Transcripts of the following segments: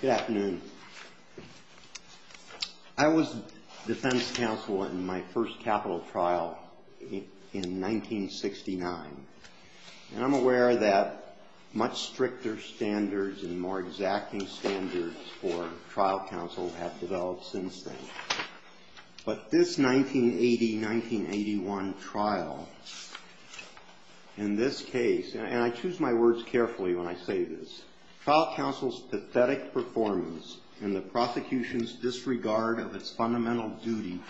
Good afternoon. I was defense counsel in my first capital trial in 1969, and I'm aware that much stricter standards and more exacting standards for trial counsel have developed since then. But this 1980-1981 trial, in this case, and I choose my words carefully when I say this, trial counsel's pathetic performance and the prosecution's disregard of its fundamental duty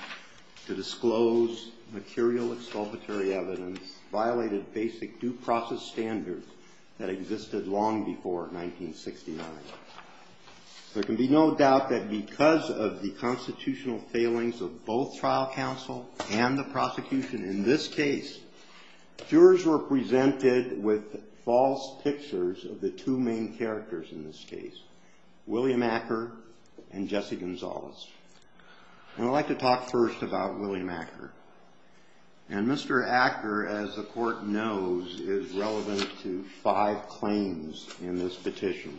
to disclose material exculpatory evidence violated basic due process standards that existed long before 1969. There can be no doubt that because of the constitutional failings of both trial counsel and the prosecution in this case, jurors were presented with false pictures of the two main characters in this case, William Acker and Jesse Gonzalez. And I'd like to talk first about William Acker. And Mr. Acker, as the Court knows, is relevant to five claims in this petition.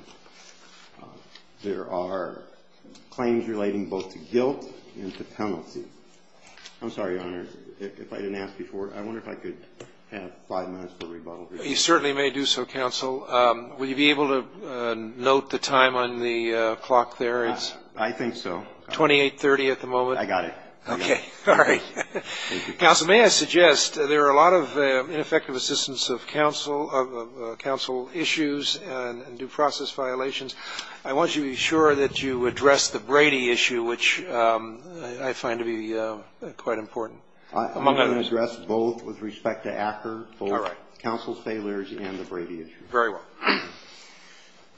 There are claims relating both to guilt and to penalty. I'm sorry, Your Honor, if I didn't ask before, I wonder if I could have five minutes for rebuttal here. You certainly may do so, counsel. Will you be able to note the time on the clock there? I think so. 2830 at the moment? I got it. Okay. All right. Thank you. Counsel, may I suggest there are a lot of ineffective assistance of counsel issues and due process violations. I want you to be sure that you address the Brady issue, which I find to be quite important. I'm going to address both with respect to Acker, both counsel's failures and the Brady issue. Very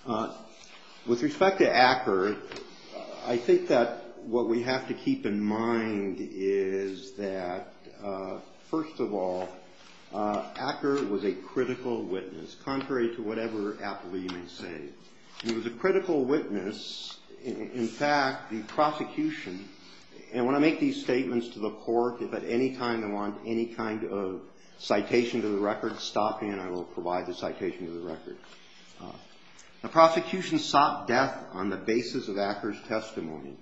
well. With respect to Acker, I think that what we have to keep in mind is that, first of all, Acker was a critical witness, contrary to whatever Appleby may say. He was a critical witness. In fact, the prosecution, and when I make these statements to the Court, if at any time I want any kind of citation to the record, stop me and I will provide the citation to the record. The prosecution sought death on the basis of Acker's testimony.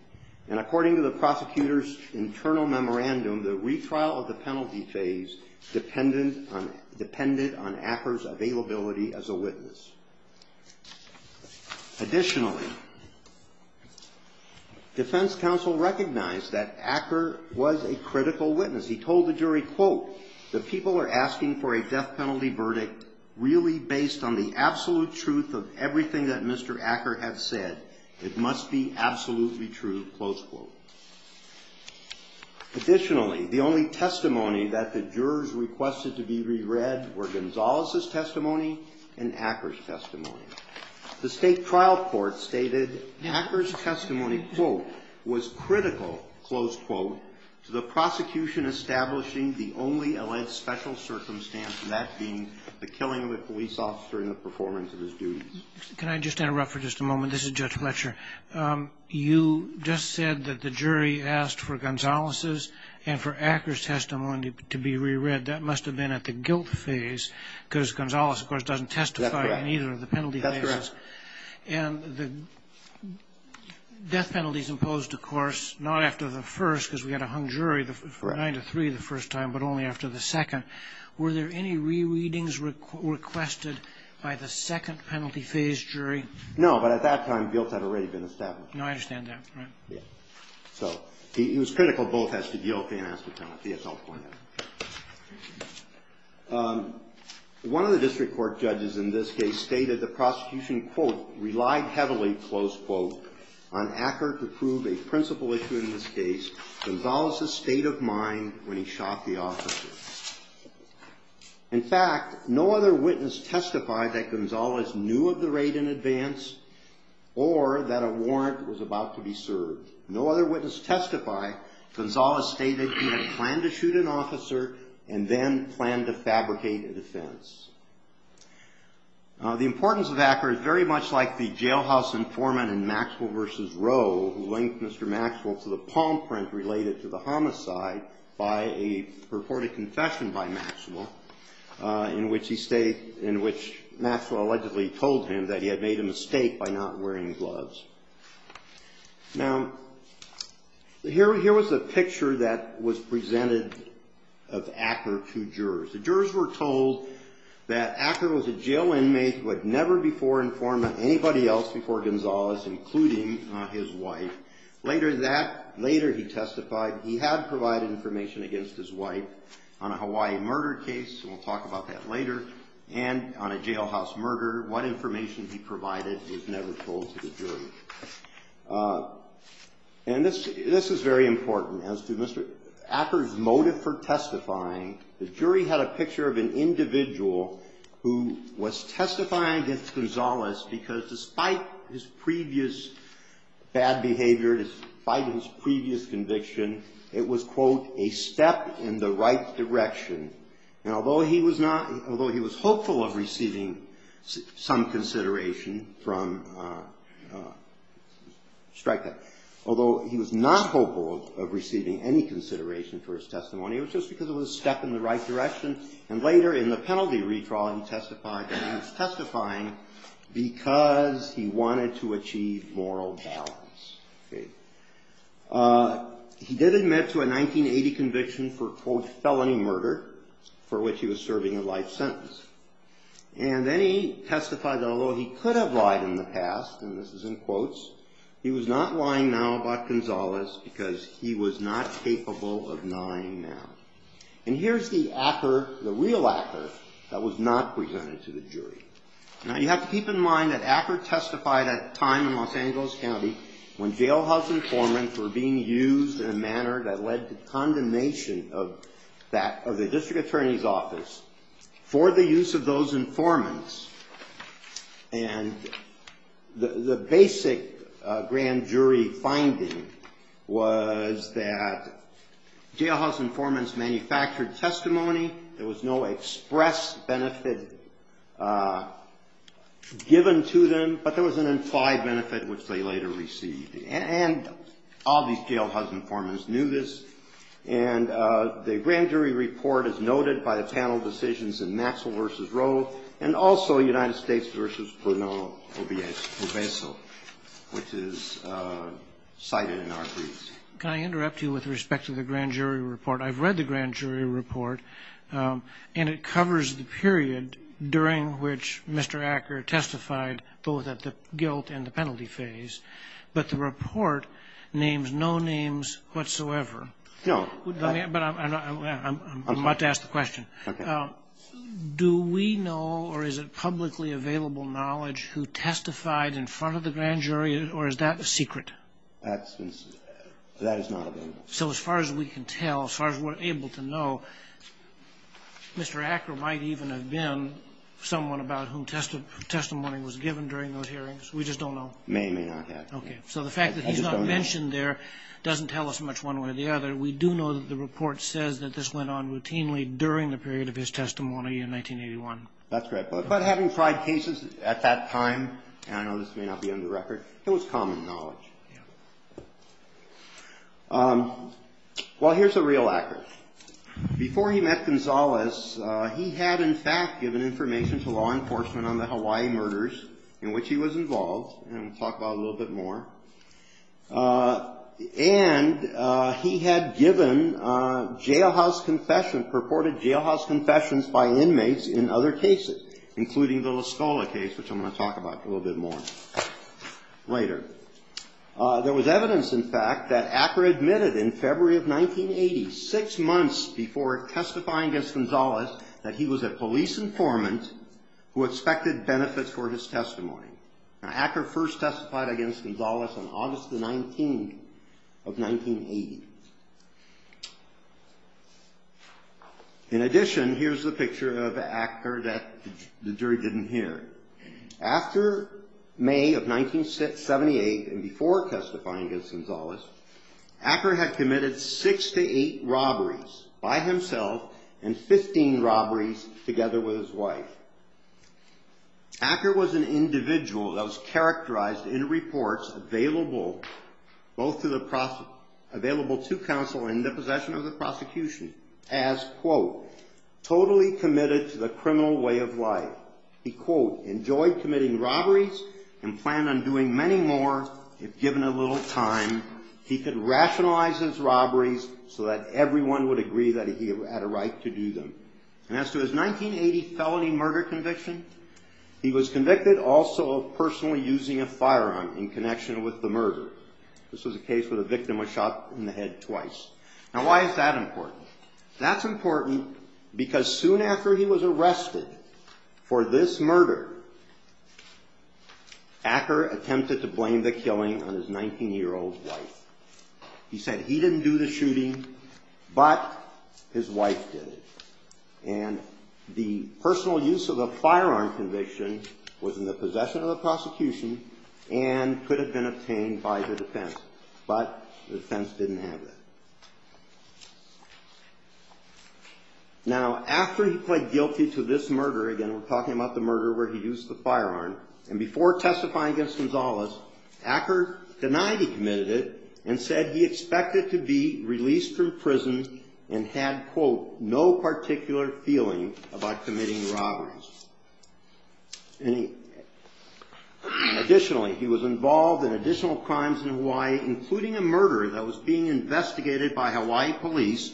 And according to the prosecutor's internal memorandum, the retrial of the penalty phase depended on Acker's availability as a witness. Additionally, defense counsel recognized that Acker was a critical witness. Additionally, the only testimony that the jurors requested to be re-read were Gonzales' testimony and Acker's testimony. The State Trial Court stated Acker's testimony, quote, was critical, close quote, to the prosecution as a whole. This is establishing the only alleged special circumstance, and that being the killing of a police officer and the performance of his duties. Can I just interrupt for just a moment? This is Judge Fletcher. You just said that the jury asked for Gonzales' and for Acker's testimony to be re-read. That must have been at the guilt phase, because Gonzales, of course, doesn't testify in either of the penalty phases. That's correct. And the death penalties imposed, of course, not after the first, because we had a hung jury for 9-3 the first time, but only after the second. Were there any re-readings requested by the second penalty phase jury? No, but at that time guilt had already been established. No, I understand that. Right. Yeah. So it was critical both as to guilt and as to penalty, as I'll point out. One of the district court judges in this case stated the prosecution, quote, relied heavily, close quote, on Acker to prove a principal issue in this case, Gonzales' state of mind when he shot the officer. In fact, no other witness testified that Gonzales knew of the raid in advance or that a warrant was about to be served. No other witness testified Gonzales stated he had planned to shoot an officer and then planned to fabricate a defense. The importance of Acker is very much like the jailhouse informant in Maxwell v. Roe who linked Mr. Maxwell to the palm print related to the homicide by a purported confession by Maxwell in which Maxwell allegedly told him that he had made a mistake by not wearing gloves. Now, here was a picture that was presented of Acker to jurors. The jurors were told that Acker was a jail inmate who had never before informed anybody else before Gonzales, including his wife. Later he testified he had provided information against his wife on a Hawaii murder case, and we'll talk about that later, and on a jailhouse murder. What information he provided was never told to the jury. And this is very important. As to Mr. Acker's motive for testifying, the jury had a picture of an individual who was testifying against Gonzales because despite his previous bad behavior, despite his previous conviction, it was, quote, a step in the right direction. And although he was not, although he was hopeful of receiving some consideration from, strike that, although he was not hopeful of receiving any consideration for his testimony, it was just because it was a step in the right direction. And later in the penalty retrial, he testified that he was testifying because he wanted to achieve moral balance. He did admit to a 1980 conviction for, quote, felony murder, for which he was serving a life sentence. And then he testified that although he could have lied in the past, and this is in quotes, he was not lying now about Gonzales because he was not capable of lying now. And here's the Acker, the real Acker, that was not presented to the jury. Now, you have to keep in mind that Acker testified at a time in Los Angeles County when jailhouse informants were being used in a manner that led to condemnation of that, of the district attorney's office for the use of those informants. And the basic grand jury finding was that jailhouse informants manufactured testimony. There was no express benefit given to them, but there was an implied benefit which they later received. And all these jailhouse informants knew this. And the grand jury report is noted by the panel decisions in Maxwell v. Rowe and also United States v. Bruno Oveso, which is cited in our briefs. Can I interrupt you with respect to the grand jury report? I've read the grand jury report, and it covers the period during which Mr. Acker testified both at the guilt and the penalty phase. But the report names no names whatsoever. No. But I'm about to ask the question. Okay. Do we know or is it publicly available knowledge who testified in front of the grand jury, or is that a secret? That is not available. So as far as we can tell, as far as we're able to know, Mr. Acker might even have been someone about whom testimony was given during those hearings. We just don't know. May or may not have. Okay. So the fact that he's not mentioned there doesn't tell us much one way or the other. We do know that the report says that this went on routinely during the period of his testimony in 1981. That's correct. But having tried cases at that time, and I know this may not be on the record, it was common knowledge. Well, here's a real accurate. Before he met Gonzalez, he had in fact given information to law enforcement on the Hawaii murders in which he was involved, and we'll talk about it a little bit more. And he had given jailhouse confession, purported jailhouse confessions by inmates in other cases, including the La Scola case, which I'm going to talk about a little bit more later. There was evidence, in fact, that Acker admitted in February of 1980, six months before testifying against Gonzalez, that he was a police informant who expected benefits for his testimony. Now, Acker first testified against Gonzalez on August the 19th of 1980. In addition, here's a picture of Acker that the jury didn't hear. After May of 1978 and before testifying against Gonzalez, Acker had committed six to eight robberies by himself and 15 robberies together with his wife. Acker was an individual that was characterized in reports available to counsel in the possession of the prosecution as, quote, totally committed to the criminal way of life. He, quote, enjoyed committing robberies and planned on doing many more if given a little time. He could rationalize his robberies so that everyone would agree that he had a right to do them. And as to his 1980 felony murder conviction, he was convicted also of personally using a firearm in connection with the murder. This was a case where the victim was shot in the head twice. Now, why is that important? That's important because soon after he was arrested for this murder, Acker attempted to blame the killing on his 19-year-old wife. He said he didn't do the shooting, but his wife did it. And the personal use of the firearm conviction was in the possession of the prosecution and could have been obtained by the defense, but the defense didn't have that. Now, after he pled guilty to this murder, again, we're talking about the murder where he used the firearm, and before testifying against Gonzalez, Acker denied he committed it and said he expected to be released from prison and had, quote, no particular feeling about committing robberies. And additionally, he was involved in additional crimes in Hawaii, including a murder that was being investigated by Hawaii police,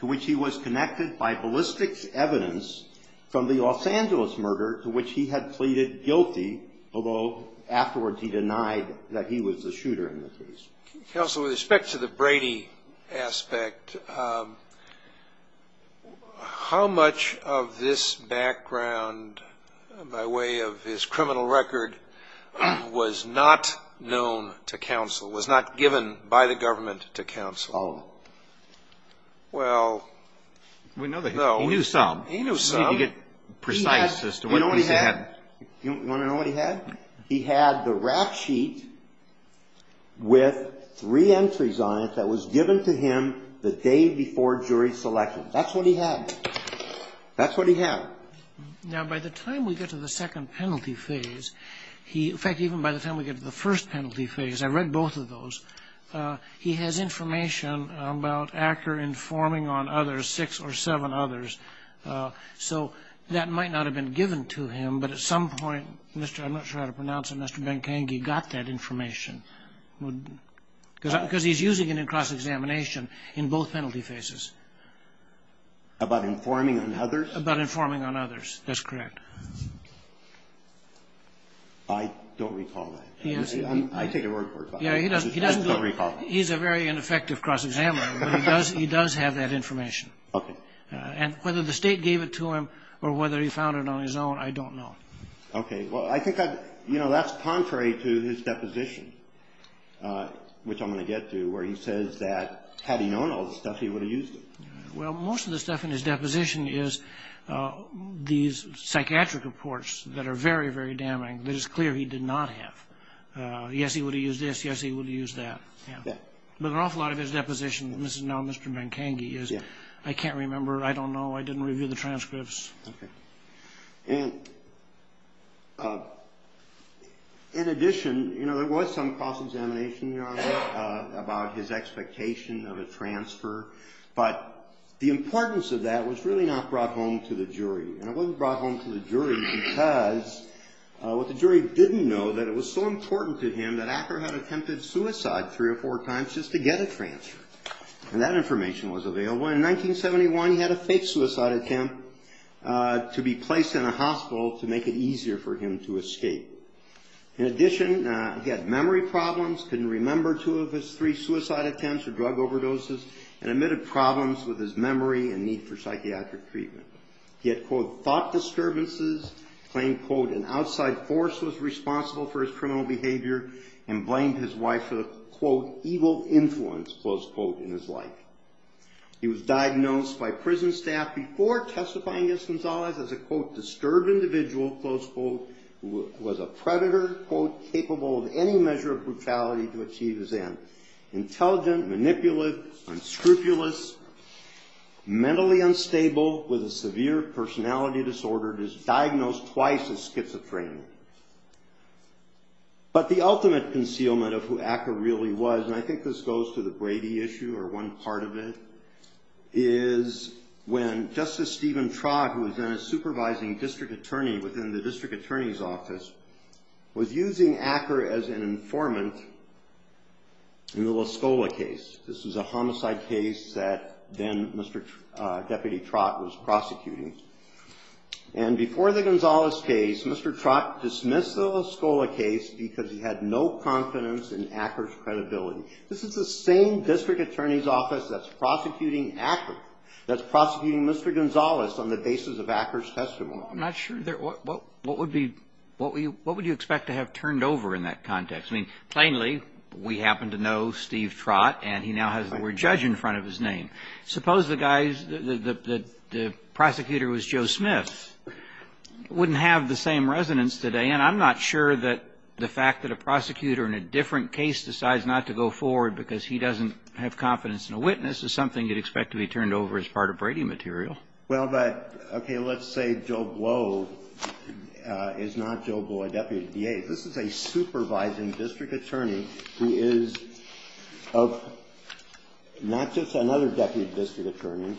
to which he was connected by ballistics evidence from the Los Angeles murder to which he had pleaded guilty, although afterwards he denied that he was the shooter in the case. Counsel, with respect to the Brady aspect, how much of this background, by way of his criminal record, was not known to counsel, was not given by the government to counsel? All of it. Well, no. He knew some. He knew some. You get precise as to what he had. You want to know what he had? He had the rap sheet with three entries on it that was given to him the day before jury selection. That's what he had. That's what he had. Now, by the time we get to the second penalty phase, he, in fact, even by the time we get to the first penalty phase, I read both of those, he has information about Acker informing on others, six or seven others. So that might not have been given to him, but at some point, I'm not sure how to pronounce it, Mr. Ben-Kenge got that information. Because he's using it in cross-examination in both penalty phases. About informing on others? About informing on others. That's correct. I don't recall that. I take it word for word. Yeah, he doesn't. He's a very ineffective cross-examiner, but he does have that information. Okay. And whether the state gave it to him or whether he found it on his own, I don't know. Okay. Well, I think that's contrary to his deposition, which I'm going to get to, where he says that had he known all this stuff, he would have used it. Well, most of the stuff in his deposition is these psychiatric reports that are very, very damning that it's clear he did not have. Yes, he would have used this. Yes, he would have used that. Yeah. But an awful lot of his deposition, and this is now Mr. Ben-Kenge, is I can't remember, I don't know, I didn't review the transcripts. Okay. And in addition, you know, there was some cross-examination, Your Honor, about his expectation of a transfer. But the importance of that was really not brought home to the jury. And it wasn't brought home to the jury because what the jury didn't know, that it was so important to him that Acker had attempted suicide three or four times just to get a transfer. And that information was available. In 1971, he had a fake suicide attempt to be placed in a hospital to make it easier for him to escape. In addition, he had memory problems, couldn't remember two of his three suicide attempts or drug overdoses, and admitted problems with his memory and need for psychiatric treatment. He had, quote, thought disturbances, claimed, quote, an outside force was responsible for his criminal behavior, and blamed his wife for the, quote, evil influence, close quote, in his life. He was diagnosed by prison staff before testifying against Gonzalez as a, quote, disturbed individual, close quote, who was a predator, quote, capable of any measure of brutality to achieve his end. Intelligent, manipulative, unscrupulous, mentally unstable, with a severe personality disorder, he was diagnosed twice as schizophrenic. But the ultimate concealment of who Acker really was, and I think this goes to the Brady issue or one part of it, is when Justice Stephen Trott, who was then a supervising district attorney within the district attorney's office, was using Acker as an informant in the La Scola case. This was a homicide case that then Mr. Deputy Trott was prosecuting. And before the Gonzalez case, Mr. Trott dismissed the La Scola case because he had no confidence in Acker's credibility. This is the same district attorney's office that's prosecuting Acker, that's prosecuting Mr. Gonzalez on the basis of Acker's testimony. I'm not sure what would be, what would you expect to have turned over in that context? I mean, plainly, we happen to know Steve Trott, and he now has the word judge in front of his name. Suppose the guy's, the prosecutor was Joe Smith. Wouldn't have the same resonance today, and I'm not sure that the fact that a prosecutor in a different case decides not to go forward because he doesn't have confidence in a witness is something you'd expect to be turned over as part of Brady material. Well, but, okay, let's say Joe Blow is not Joe Blow, a deputy DA. This is a supervising district attorney who is of, not just another deputy district attorney,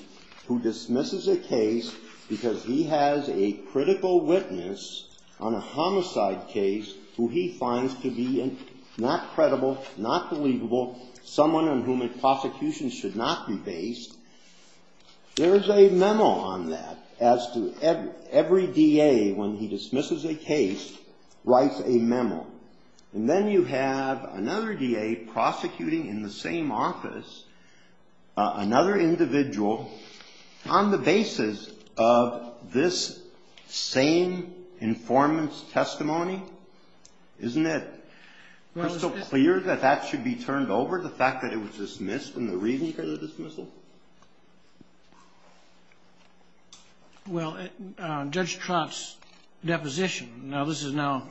who dismisses a case because he has a critical witness on a homicide case who he finds to be not credible, not believable, someone on whom a prosecution should not be based. There is a memo on that as to every DA, when he dismisses a case, writes a memo. And then you have another DA prosecuting in the same office another individual on the basis of this same informant's testimony. Isn't it crystal clear that that should be turned over, the fact that it was dismissed and the reason for the dismissal? Well, Judge Trott's deposition, now this is now,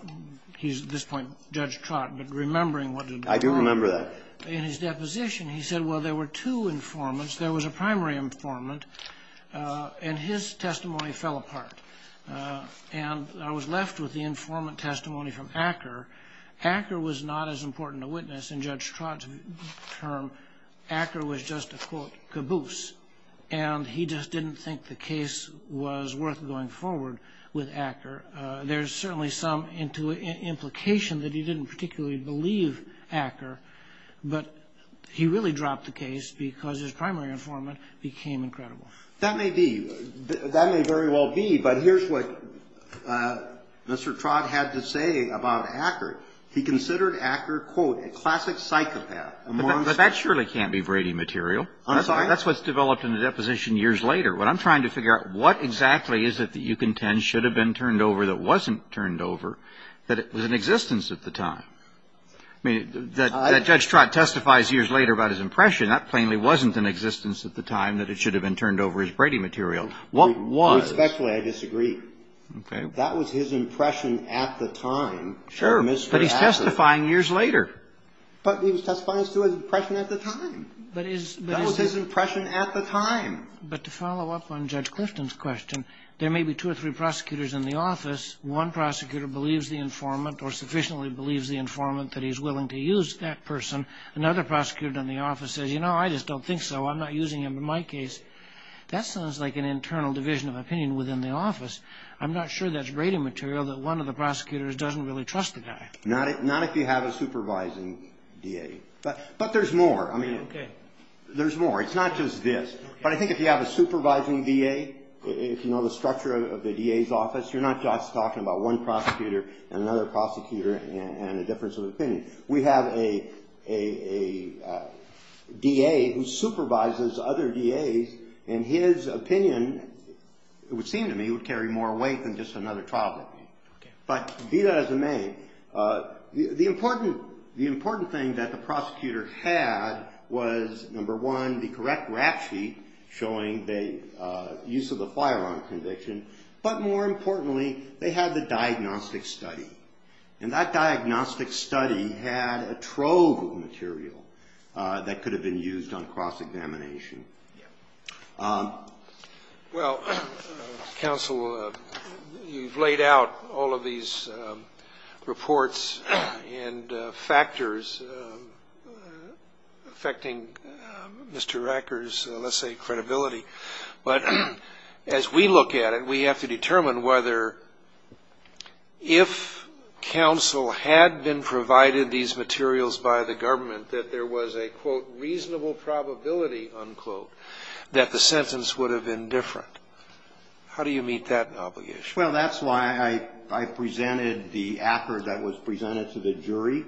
he's at this point, Judge Trott, but remembering what did happen. I do remember that. In his deposition, he said, well, there were two informants, there was a primary informant, and his testimony fell apart. And I was left with the informant testimony from Acker. Acker was not as important a witness in Judge Trott's term. Acker was just a, quote, caboose. And he just didn't think the case was worth going forward with Acker. There's certainly some implication that he didn't particularly believe Acker, but he really dropped the case because his primary informant became incredible. That may be. That may very well be, but here's what Mr. Trott had to say about Acker. He considered Acker, quote, a classic psychopath, a monster. But that surely can't be Brady material. That's what's developed in the deposition years later. What I'm trying to figure out, what exactly is it that you contend should have been turned over that wasn't turned over, that was in existence at the time? I mean, that Judge Trott testifies years later about his impression. That plainly wasn't in existence at the time that it should have been turned over as Brady material. What was? Respectfully, I disagree. Okay. That was his impression at the time. Sure. But he's testifying years later. But he was testifying as to his impression at the time. That was his impression at the time. But to follow up on Judge Clifton's question, there may be two or three prosecutors in the office. One prosecutor believes the informant or sufficiently believes the informant that he's willing to use that person. Another prosecutor in the office says, you know, I just don't think so. I'm not using him in my case. That sounds like an internal division of opinion within the office. I'm not sure that's Brady material, that one of the prosecutors doesn't really trust the guy. Not if you have a supervising DA. But there's more. I mean, there's more. It's not just this. But I think if you have a supervising DA, if you know the structure of the DA's office, you're not just talking about one prosecutor and another prosecutor and a difference of opinion. We have a DA who supervises other DAs, and his opinion, it would seem to me, would carry more weight than just another trial. Okay. But be that as it may, the important thing that the prosecutor had was, number one, the correct rap sheet. Showing the use of the firearm conviction. But more importantly, they had the diagnostic study. And that diagnostic study had a trove of material that could have been used on cross-examination. Yeah. Well, counsel, you've laid out all of these reports and factors affecting Mr. Racker's, let's say, credibility. But as we look at it, we have to determine whether if counsel had been provided these materials by the government, that there was a, quote, reasonable probability, unquote, that the sentence would have been different. How do you meet that obligation? Well, that's why I presented the ACCR that was presented to the jury.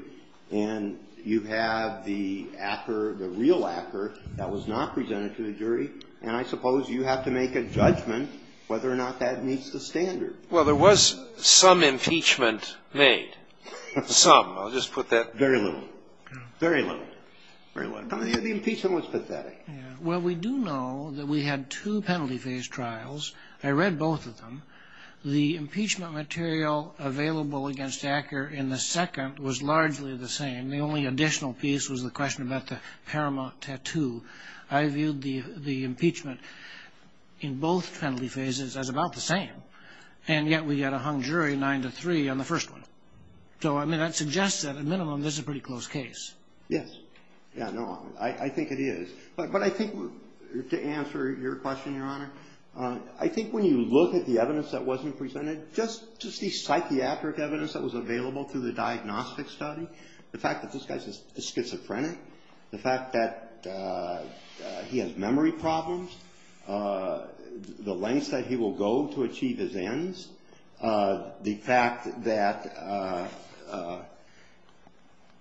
And you have the ACCR, the real ACCR, that was not presented to the jury. And I suppose you have to make a judgment whether or not that meets the standard. Well, there was some impeachment made. Some. I'll just put that. Very little. Very little. Very little. The impeachment was pathetic. Yeah. Well, we do know that we had two penalty phase trials. I read both of them. The impeachment material available against ACCR in the second was largely the same. The only additional piece was the question about the paramount tattoo. I viewed the impeachment in both penalty phases as about the same. And yet we got a hung jury 9 to 3 on the first one. So, I mean, that suggests that, at minimum, this is a pretty close case. Yes. Yeah, no. I think it is. But I think to answer your question, Your Honor, I think when you look at the evidence that wasn't presented, just the psychiatric evidence that was available through the diagnostic study, the fact that this guy is schizophrenic, the fact that he has memory problems, the lengths that he will go to achieve his ends, the fact that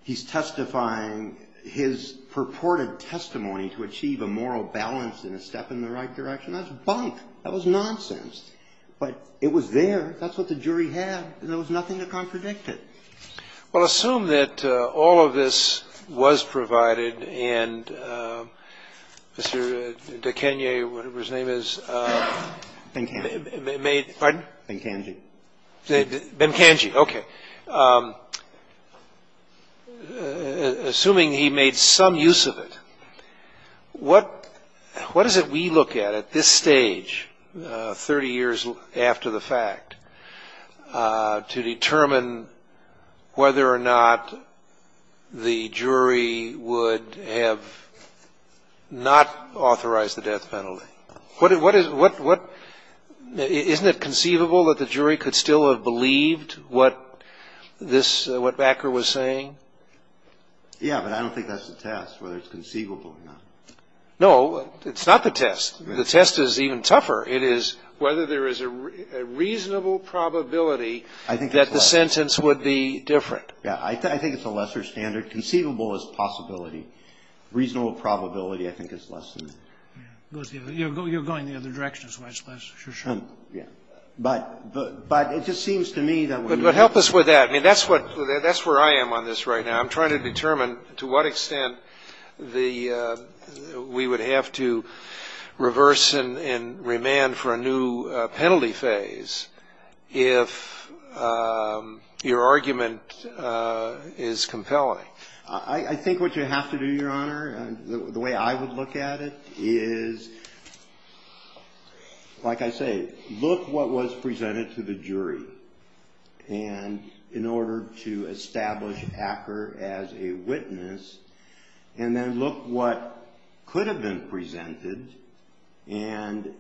he's testifying his purported testimony to achieve a moral balance and a step in the right direction, that's bunk. That was nonsense. But it was there. That's what the jury had, and there was nothing to contradict it. Well, assume that all of this was provided, and Mr. DeKanye, whatever his name is. Ben Kanji. Pardon? Ben Kanji. Ben Kanji. Okay. Assuming he made some use of it, what is it we look at at this stage, 30 years after the fact, to determine whether or not the jury would have not authorized the death penalty? Isn't it conceivable that the jury could still have believed what this, what Backer was saying? Yeah, but I don't think that's the test, whether it's conceivable or not. No, it's not the test. The test is even tougher. It is whether there is a reasonable probability that the sentence would be different. Yeah, I think it's a lesser standard. Conceivable is possibility. Reasonable probability, I think, is less than that. You're going the other direction, so that's less for sure. Yeah. But it just seems to me that when you – But help us with that. I mean, that's where I am on this right now. I'm trying to determine to what extent the – we would have to reverse and remand for a new penalty phase if your argument is compelling. I think what you have to do, Your Honor, the way I would look at it is, like I say, look what was presented to the jury. And in order to establish Backer as a witness, and then look what could have been presented, and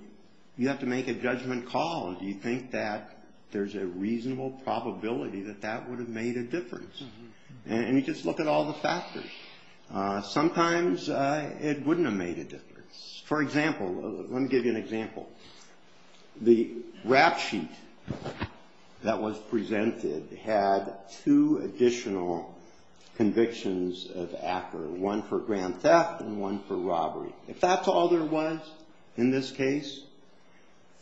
you have to make a judgment call. Do you think that there's a reasonable probability that that would have made a difference? And you just look at all the factors. Sometimes it wouldn't have made a difference. For example, let me give you an example. The rap sheet that was presented had two additional convictions of Acker, one for grand theft and one for robbery. If that's all there was in this case,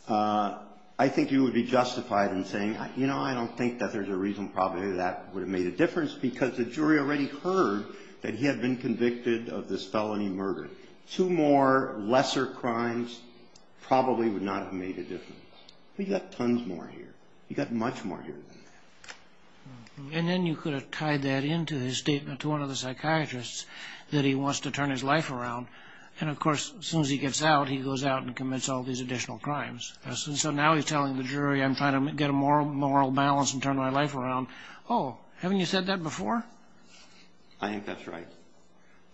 I think you would be justified in saying, you know, I don't think that there's a reason probably that would have made a difference because the jury already heard that he had been convicted of this felony murder. Two more lesser crimes probably would not have made a difference. But he got tons more here. He got much more here than that. And then you could have tied that into his statement to one of the psychiatrists that he wants to turn his life around. And, of course, as soon as he gets out, he goes out and commits all these additional crimes. Yes. And so now he's telling the jury, I'm trying to get a moral balance and turn my life around. Oh, haven't you said that before? I think that's right.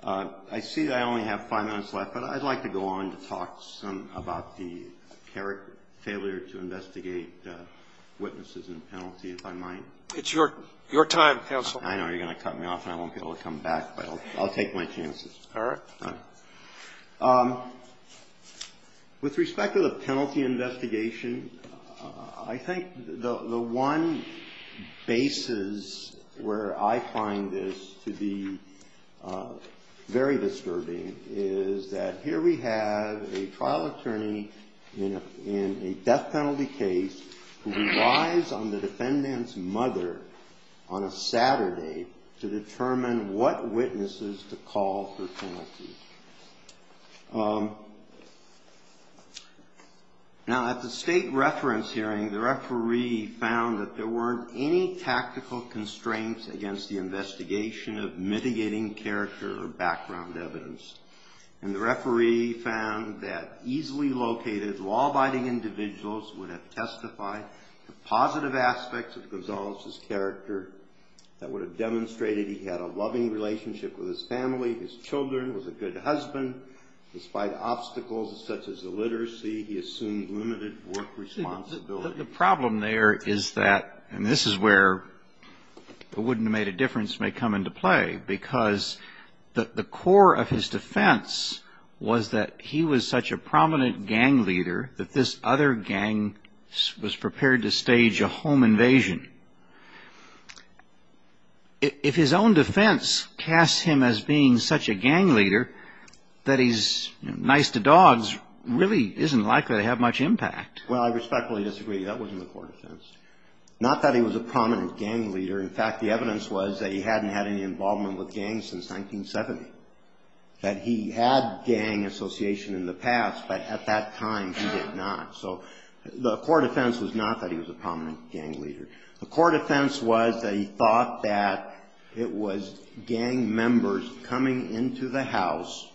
I see I only have five minutes left, but I'd like to go on to talk some about the failure to investigate witnesses and penalty, if I might. It's your time, counsel. I know you're going to cut me off and I won't be able to come back, but I'll take my chances. All right. All right. With respect to the penalty investigation, I think the one basis where I find this to be very disturbing is that here we have a trial attorney in a death penalty case who relies on the defendant's mother on a Saturday to determine what witnesses to call for penalty. Now, at the state reference hearing, the referee found that there weren't any tactical constraints against the investigation of mitigating character or background evidence. And the referee found that easily located, law-abiding individuals would have testified to positive aspects of Gonzalez's character that would have demonstrated he had a loving relationship with his family, his children, was a good husband. Despite obstacles such as illiteracy, he assumed limited work responsibility. Well, the problem there is that, and this is where the wouldn't have made a difference may come into play, because the core of his defense was that he was such a prominent gang leader that this other gang was prepared to stage a home invasion. If his own defense casts him as being such a gang leader, that he's nice to dogs really isn't likely to have much impact. Well, I respectfully disagree. That wasn't the core defense. Not that he was a prominent gang leader. In fact, the evidence was that he hadn't had any involvement with gangs since 1970, that he had gang association in the past, but at that time he did not. So the core defense was not that he was a prominent gang leader. The core defense was that he thought that it was gang members coming into the house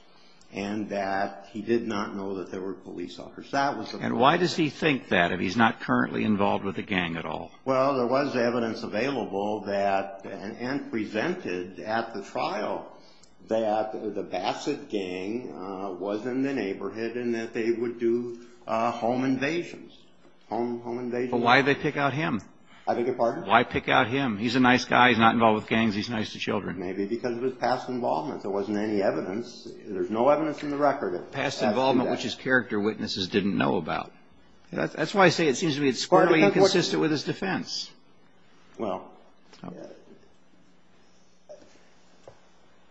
and that he did not know that there were police officers. And why does he think that if he's not currently involved with a gang at all? Well, there was evidence available and presented at the trial that the Bassett gang was in the neighborhood and that they would do home invasions. But why did they pick out him? I beg your pardon? Why pick out him? He's a nice guy. He's not involved with gangs. He's nice to children. Maybe because of his past involvement. There wasn't any evidence. There's no evidence in the record. Past involvement, which his character witnesses didn't know about. That's why I say it seems to me it's partly inconsistent with his defense. Well,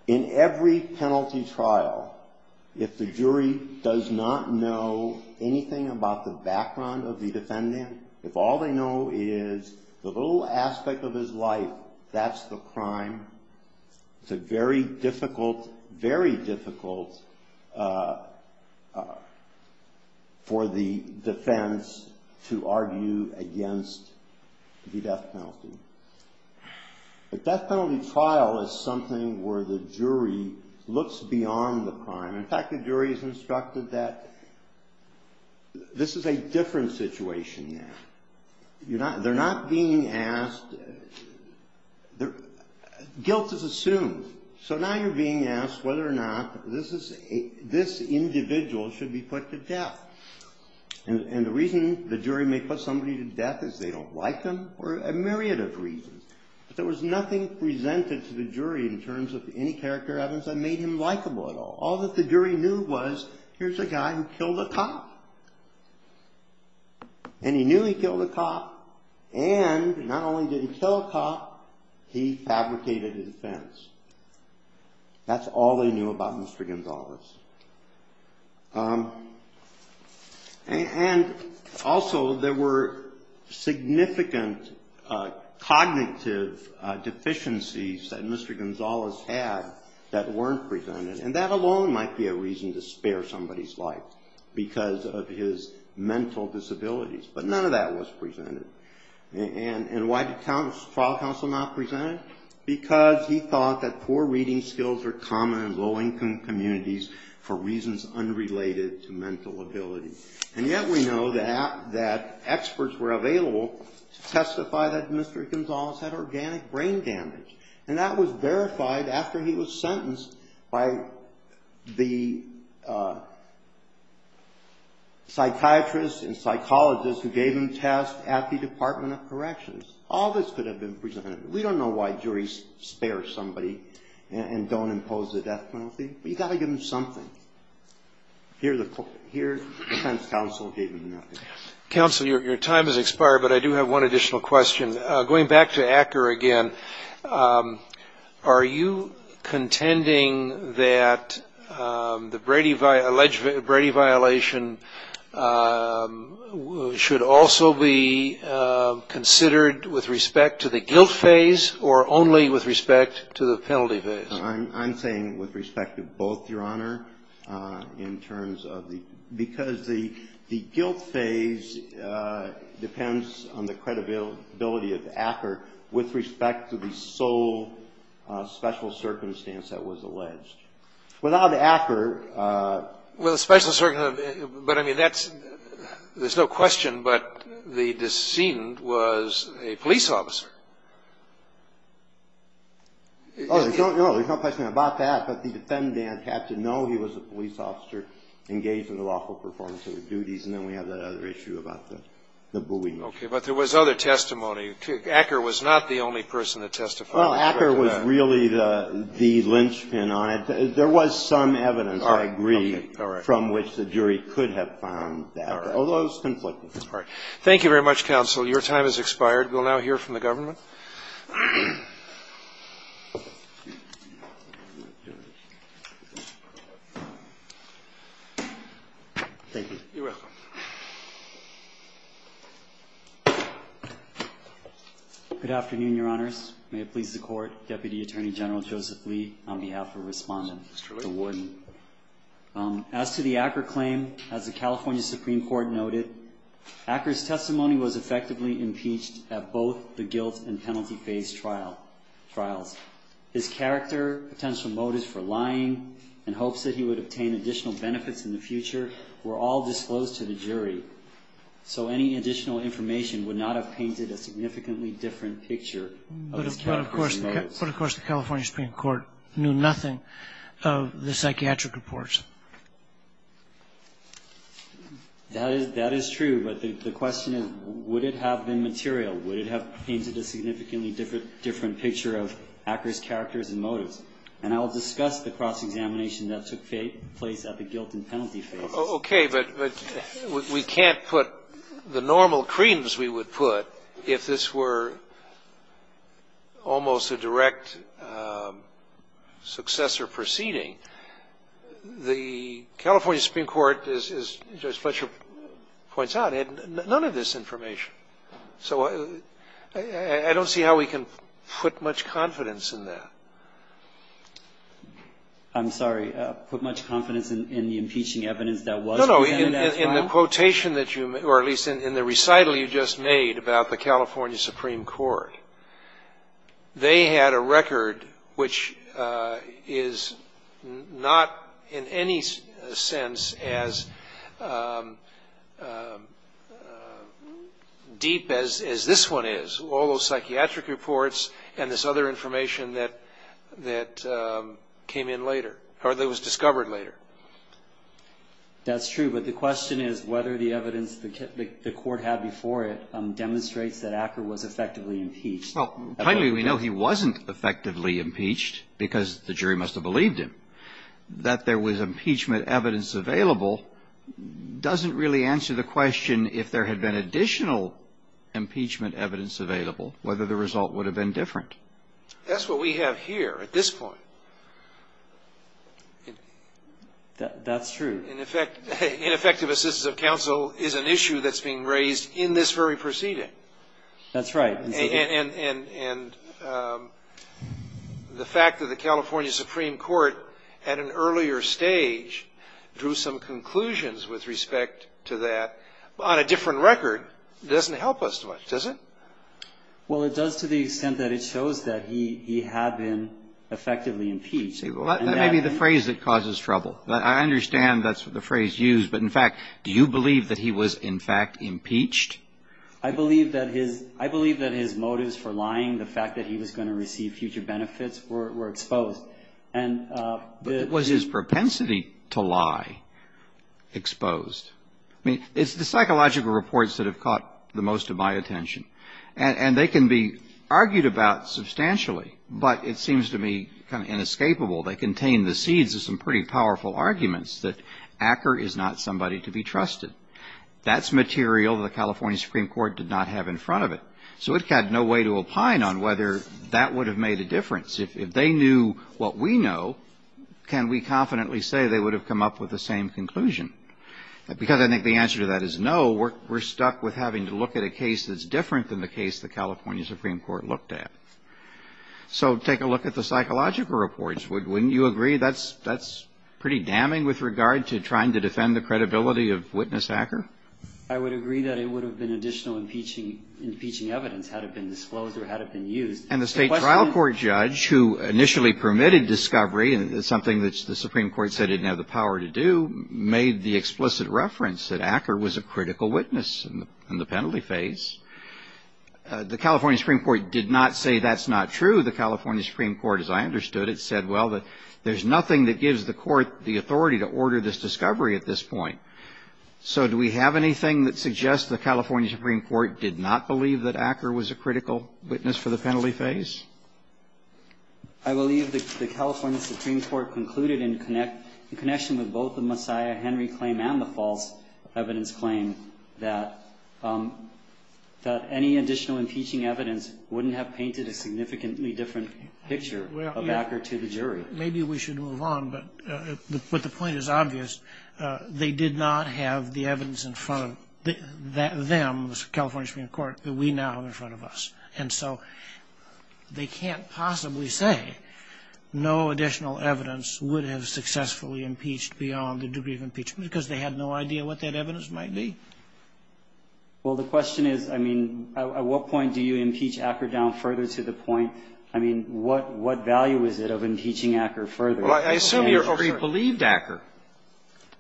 in every penalty trial, if the jury does not know anything about the background of the defendant, if all they know is the little aspect of his life, that's the crime, it's a very difficult, very difficult for the defense to argue against the death penalty. A death penalty trial is something where the jury looks beyond the crime. In fact, the jury is instructed that this is a different situation now. They're not being asked. Guilt is assumed. So now you're being asked whether or not this individual should be put to death. And the reason the jury may put somebody to death is they don't like them for a myriad of reasons. But there was nothing presented to the jury in terms of any character elements that made him likable at all. All that the jury knew was, here's a guy who killed a cop. And he knew he killed a cop. And not only did he kill a cop, he fabricated a defense. That's all they knew about Mr. Gonzales. And also, there were significant cognitive deficiencies that Mr. Gonzales had that weren't presented. And that alone might be a reason to spare somebody's life because of his mental disabilities. But none of that was presented. And why did trial counsel not present it? Because he thought that poor reading skills were common in low-income communities for reasons unrelated to mental ability. And yet we know that experts were available to testify that Mr. Gonzales had organic brain damage. And that was verified after he was sentenced by the psychiatrists and psychologists who gave him tests at the Department of Corrections. All this could have been presented. We don't know why juries spare somebody and don't impose the death penalty. But you've got to give them something. Here the defense counsel gave him nothing. Counsel, your time has expired, but I do have one additional question. Going back to Acker again, are you contending that the Brady violation should also be considered with respect to the guilt phase or only with respect to the penalty phase? I'm saying with respect to both, Your Honor, in terms of the — because the guilt phase depends on the credibility of Acker with respect to the sole special circumstance that was alleged. Without Acker — Well, the special circumstance — but, I mean, that's — there's no question, but the decedent was a police officer. Oh, no, there's no question about that. But the defendant had to know he was a police officer engaged in the lawful performance of his duties. And then we have that other issue about the booing. Okay. But there was other testimony. Acker was not the only person that testified. Well, Acker was really the lynchpin on it. There was some evidence, I agree, from which the jury could have found that, although it was conflicting. All right. Thank you very much, counsel. Your time has expired. We'll now hear from the government. You're welcome. Good afternoon, Your Honors. May it please the Court. Deputy Attorney General Joseph Lee on behalf of Respondent. Mr. Lee. As to the Acker claim, as the California Supreme Court noted, Acker's testimony was effectively impeached at both the guilt and penalty phase trials. His character, potential motives for lying, and hopes that he would obtain additional benefits in the future were all disclosed to the jury. So any additional information would not have painted a significantly different picture. But, of course, the California Supreme Court knew nothing of the psychiatric reports. That is true, but the question is, would it have been material? Would it have painted a significantly different picture of Acker's characters and motives? And I will discuss the cross-examination that took place at the guilt and penalty phase. Okay. But we can't put the normal creams we would put if this were almost a direct successor proceeding. The California Supreme Court, as Judge Fletcher points out, had none of this information. So I don't see how we can put much confidence in that. I'm sorry. Put much confidence in the impeaching evidence that was presented as well? No, no. In the quotation that you or at least in the recital you just made about the California Supreme Court, that was not in any sense as deep as this one is, all those psychiatric reports and this other information that came in later or that was discovered later. That's true. But the question is whether the evidence the Court had before it demonstrates that Acker was effectively impeached. Well, apparently we know he wasn't effectively impeached because the jury must have believed him. That there was impeachment evidence available doesn't really answer the question if there had been additional impeachment evidence available, whether the result would have been different. That's what we have here at this point. That's true. In effect, ineffective assistance of counsel is an issue that's being raised in this very proceeding. That's right. And the fact that the California Supreme Court at an earlier stage drew some conclusions with respect to that on a different record doesn't help us much, does it? Well, it does to the extent that it shows that he had been effectively impeached. That may be the phrase that causes trouble. I understand that's the phrase used, but in fact, do you believe that he was in fact impeached? I believe that his motives for lying, the fact that he was going to receive future benefits, were exposed. But was his propensity to lie exposed? I mean, it's the psychological reports that have caught the most of my attention. And they can be argued about substantially, but it seems to me kind of inescapable. They contain the seeds of some pretty powerful arguments that Acker is not somebody to be trusted. That's material the California Supreme Court did not have in front of it. So it had no way to opine on whether that would have made a difference. If they knew what we know, can we confidently say they would have come up with the same conclusion? Because I think the answer to that is no. We're stuck with having to look at a case that's different than the case the California Supreme Court looked at. So take a look at the psychological reports. Wouldn't you agree that's pretty damning with regard to trying to defend the credibility of witness Acker? I would agree that it would have been additional impeaching evidence had it been disclosed or had it been used. And the State Trial Court judge who initially permitted discovery, and it's something that the Supreme Court said it didn't have the power to do, made the explicit reference that Acker was a critical witness in the penalty phase. The California Supreme Court did not say that's not true. The California Supreme Court, as I understood it, said, well, there's nothing that So do we have anything that suggests the California Supreme Court did not believe that Acker was a critical witness for the penalty phase? I believe the California Supreme Court concluded in connection with both the Messiah Henry claim and the false evidence claim that any additional impeaching evidence wouldn't have painted a significantly different picture of Acker to the jury. Maybe we should move on, but the point is obvious. They did not have the evidence in front of them, the California Supreme Court, that we now have in front of us. And so they can't possibly say no additional evidence would have successfully impeached beyond the degree of impeachment because they had no idea what that evidence might be. Well, the question is, I mean, at what point do you impeach Acker down further to the point? I mean, what value is it of impeaching Acker further? Well, I assume your jury believed Acker.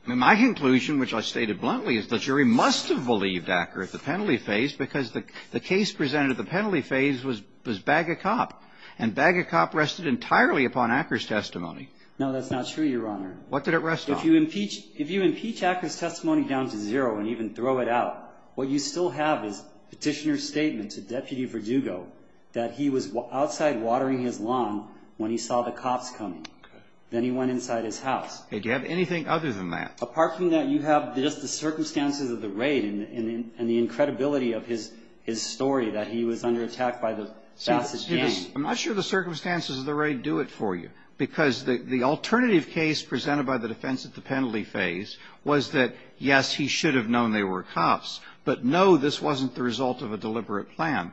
My conclusion, which I stated bluntly, is the jury must have believed Acker at the penalty phase because the case presented at the penalty phase was Bagocop. And Bagocop rested entirely upon Acker's testimony. No, that's not true, Your Honor. What did it rest on? If you impeach Acker's testimony down to zero and even throw it out, what you still have is Petitioner's statement to Deputy Verdugo that he was outside watering his lawn when he saw the cops coming. Okay. Then he went inside his house. Do you have anything other than that? Apart from that, you have just the circumstances of the raid and the incredibility of his story that he was under attack by the Bassett gang. I'm not sure the circumstances of the raid do it for you because the alternative case presented by the defense at the penalty phase was that, yes, he should have known they were cops, but, no, this wasn't the result of a deliberate plan.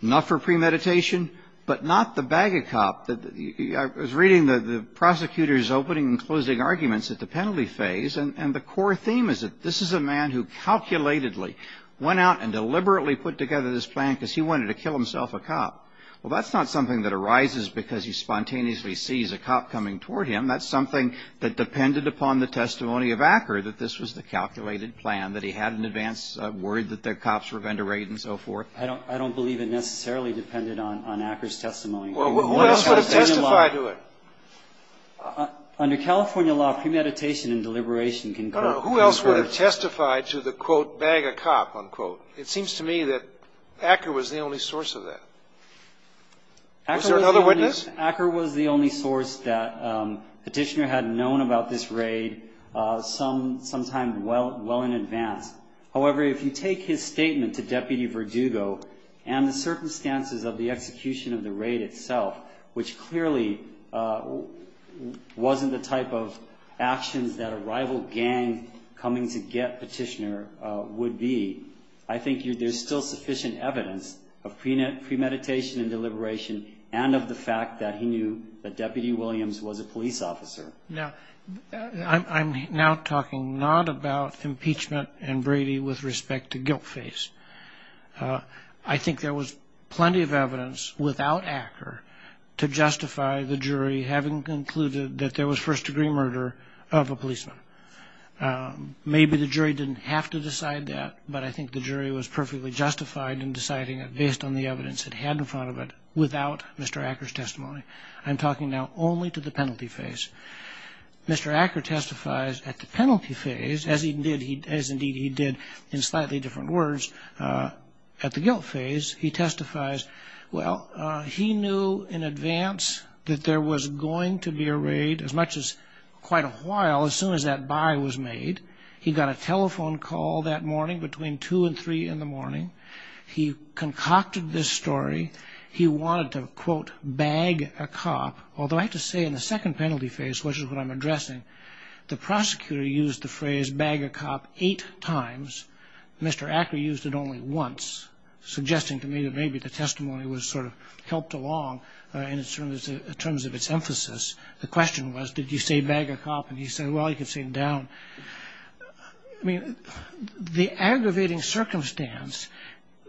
Not for premeditation, but not the Bagocop. I was reading the prosecutor's opening and closing arguments at the penalty phase, and the core theme is that this is a man who calculatedly went out and deliberately put together this plan because he wanted to kill himself a cop. Well, that's not something that arises because he spontaneously sees a cop coming toward him. That's something that depended upon the testimony of Acker that this was the man, that he had an advance, worried that the cops were going to raid and so forth. I don't believe it necessarily depended on Acker's testimony. Well, who else would have testified to it? Under California law, premeditation and deliberation can co- I don't know. Who else would have testified to the, quote, Bagocop, unquote? It seems to me that Acker was the only source of that. Was there another witness? Acker was the only source that Petitioner had known about this raid, sometime well in advance. However, if you take his statement to Deputy Verdugo and the circumstances of the execution of the raid itself, which clearly wasn't the type of actions that a rival gang coming to get Petitioner would be, I think there's still sufficient evidence of premeditation and deliberation and of the fact that he knew that Deputy Williams was a police officer. Now, I'm now talking not about impeachment and Brady with respect to guilt face. I think there was plenty of evidence without Acker to justify the jury having concluded that there was first degree murder of a policeman. Maybe the jury didn't have to decide that, but I think the jury was perfectly justified in deciding it based on the evidence it had in front of it without Mr. Acker's testimony. I'm talking now only to the penalty face. Mr. Acker testifies at the penalty face, as indeed he did in slightly different words at the guilt face, he testifies, well, he knew in advance that there was going to be a raid as much as quite a while as soon as that buy was made. He got a telephone call that morning between 2 and 3 in the morning. He concocted this story. He wanted to, quote, bag a cop, although I have to say in the second penalty face, which is what I'm addressing, the prosecutor used the phrase bag a cop eight times. Mr. Acker used it only once, suggesting to me that maybe the testimony was sort of helped along in terms of its emphasis. The question was, did you say bag a cop? And he said, well, you can say it down. I mean, the aggravating circumstance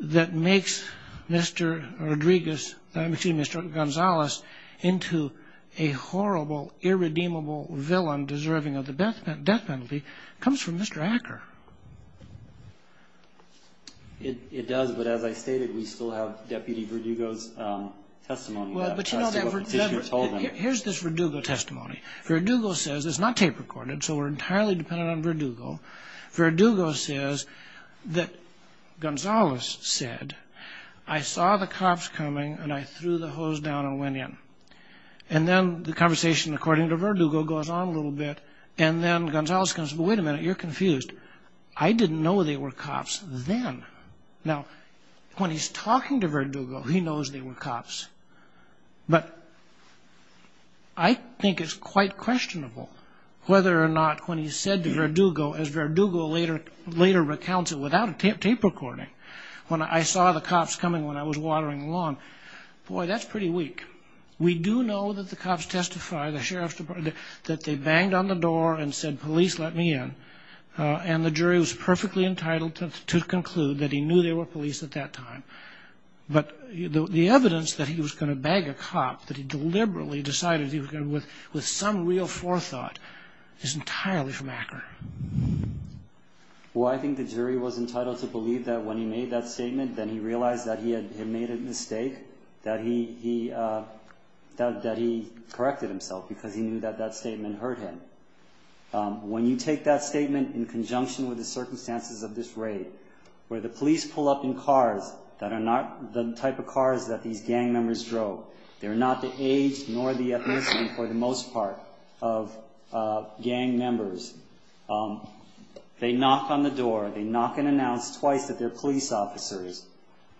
that makes Mr. Rodriguez, excuse me, Mr. Gonzalez, into a horrible, irredeemable villain deserving of the death penalty comes from Mr. Acker. It does, but as I stated, we still have Deputy Verdugo's testimony. Here's this Verdugo testimony. Verdugo says, it's not tape recorded, so we're entirely dependent on Verdugo. Verdugo says that Gonzalez said, I saw the cops coming, and I threw the hose down and went in. And then the conversation, according to Verdugo, goes on a little bit, and then Gonzalez comes, but wait a minute, you're confused. I didn't know they were cops then. Now, when he's talking to Verdugo, he knows they were cops, but I think it's quite questionable whether or not when he said to Verdugo, as Verdugo later recounts it without a tape recording, when I saw the cops coming when I was watering the lawn, boy, that's pretty weak. We do know that the cops testify, that they banged on the door and said, police, let me in, and the jury was perfectly entitled to conclude that he knew they were police at that time. But the evidence that he was going to bag a cop, that he deliberately decided he was going to, with some real forethought, is entirely from Akron. Well, I think the jury was entitled to believe that when he made that statement, then he realized that he had made a mistake, that he corrected himself because he knew that that statement hurt him. When you take that statement in conjunction with the circumstances of this raid, where the police pull up in cars that are not the type of cars that these gang members drove, they're not the age nor the ethnicity for the most part of gang members, they knock on the door, they knock and announce twice that they're police officers.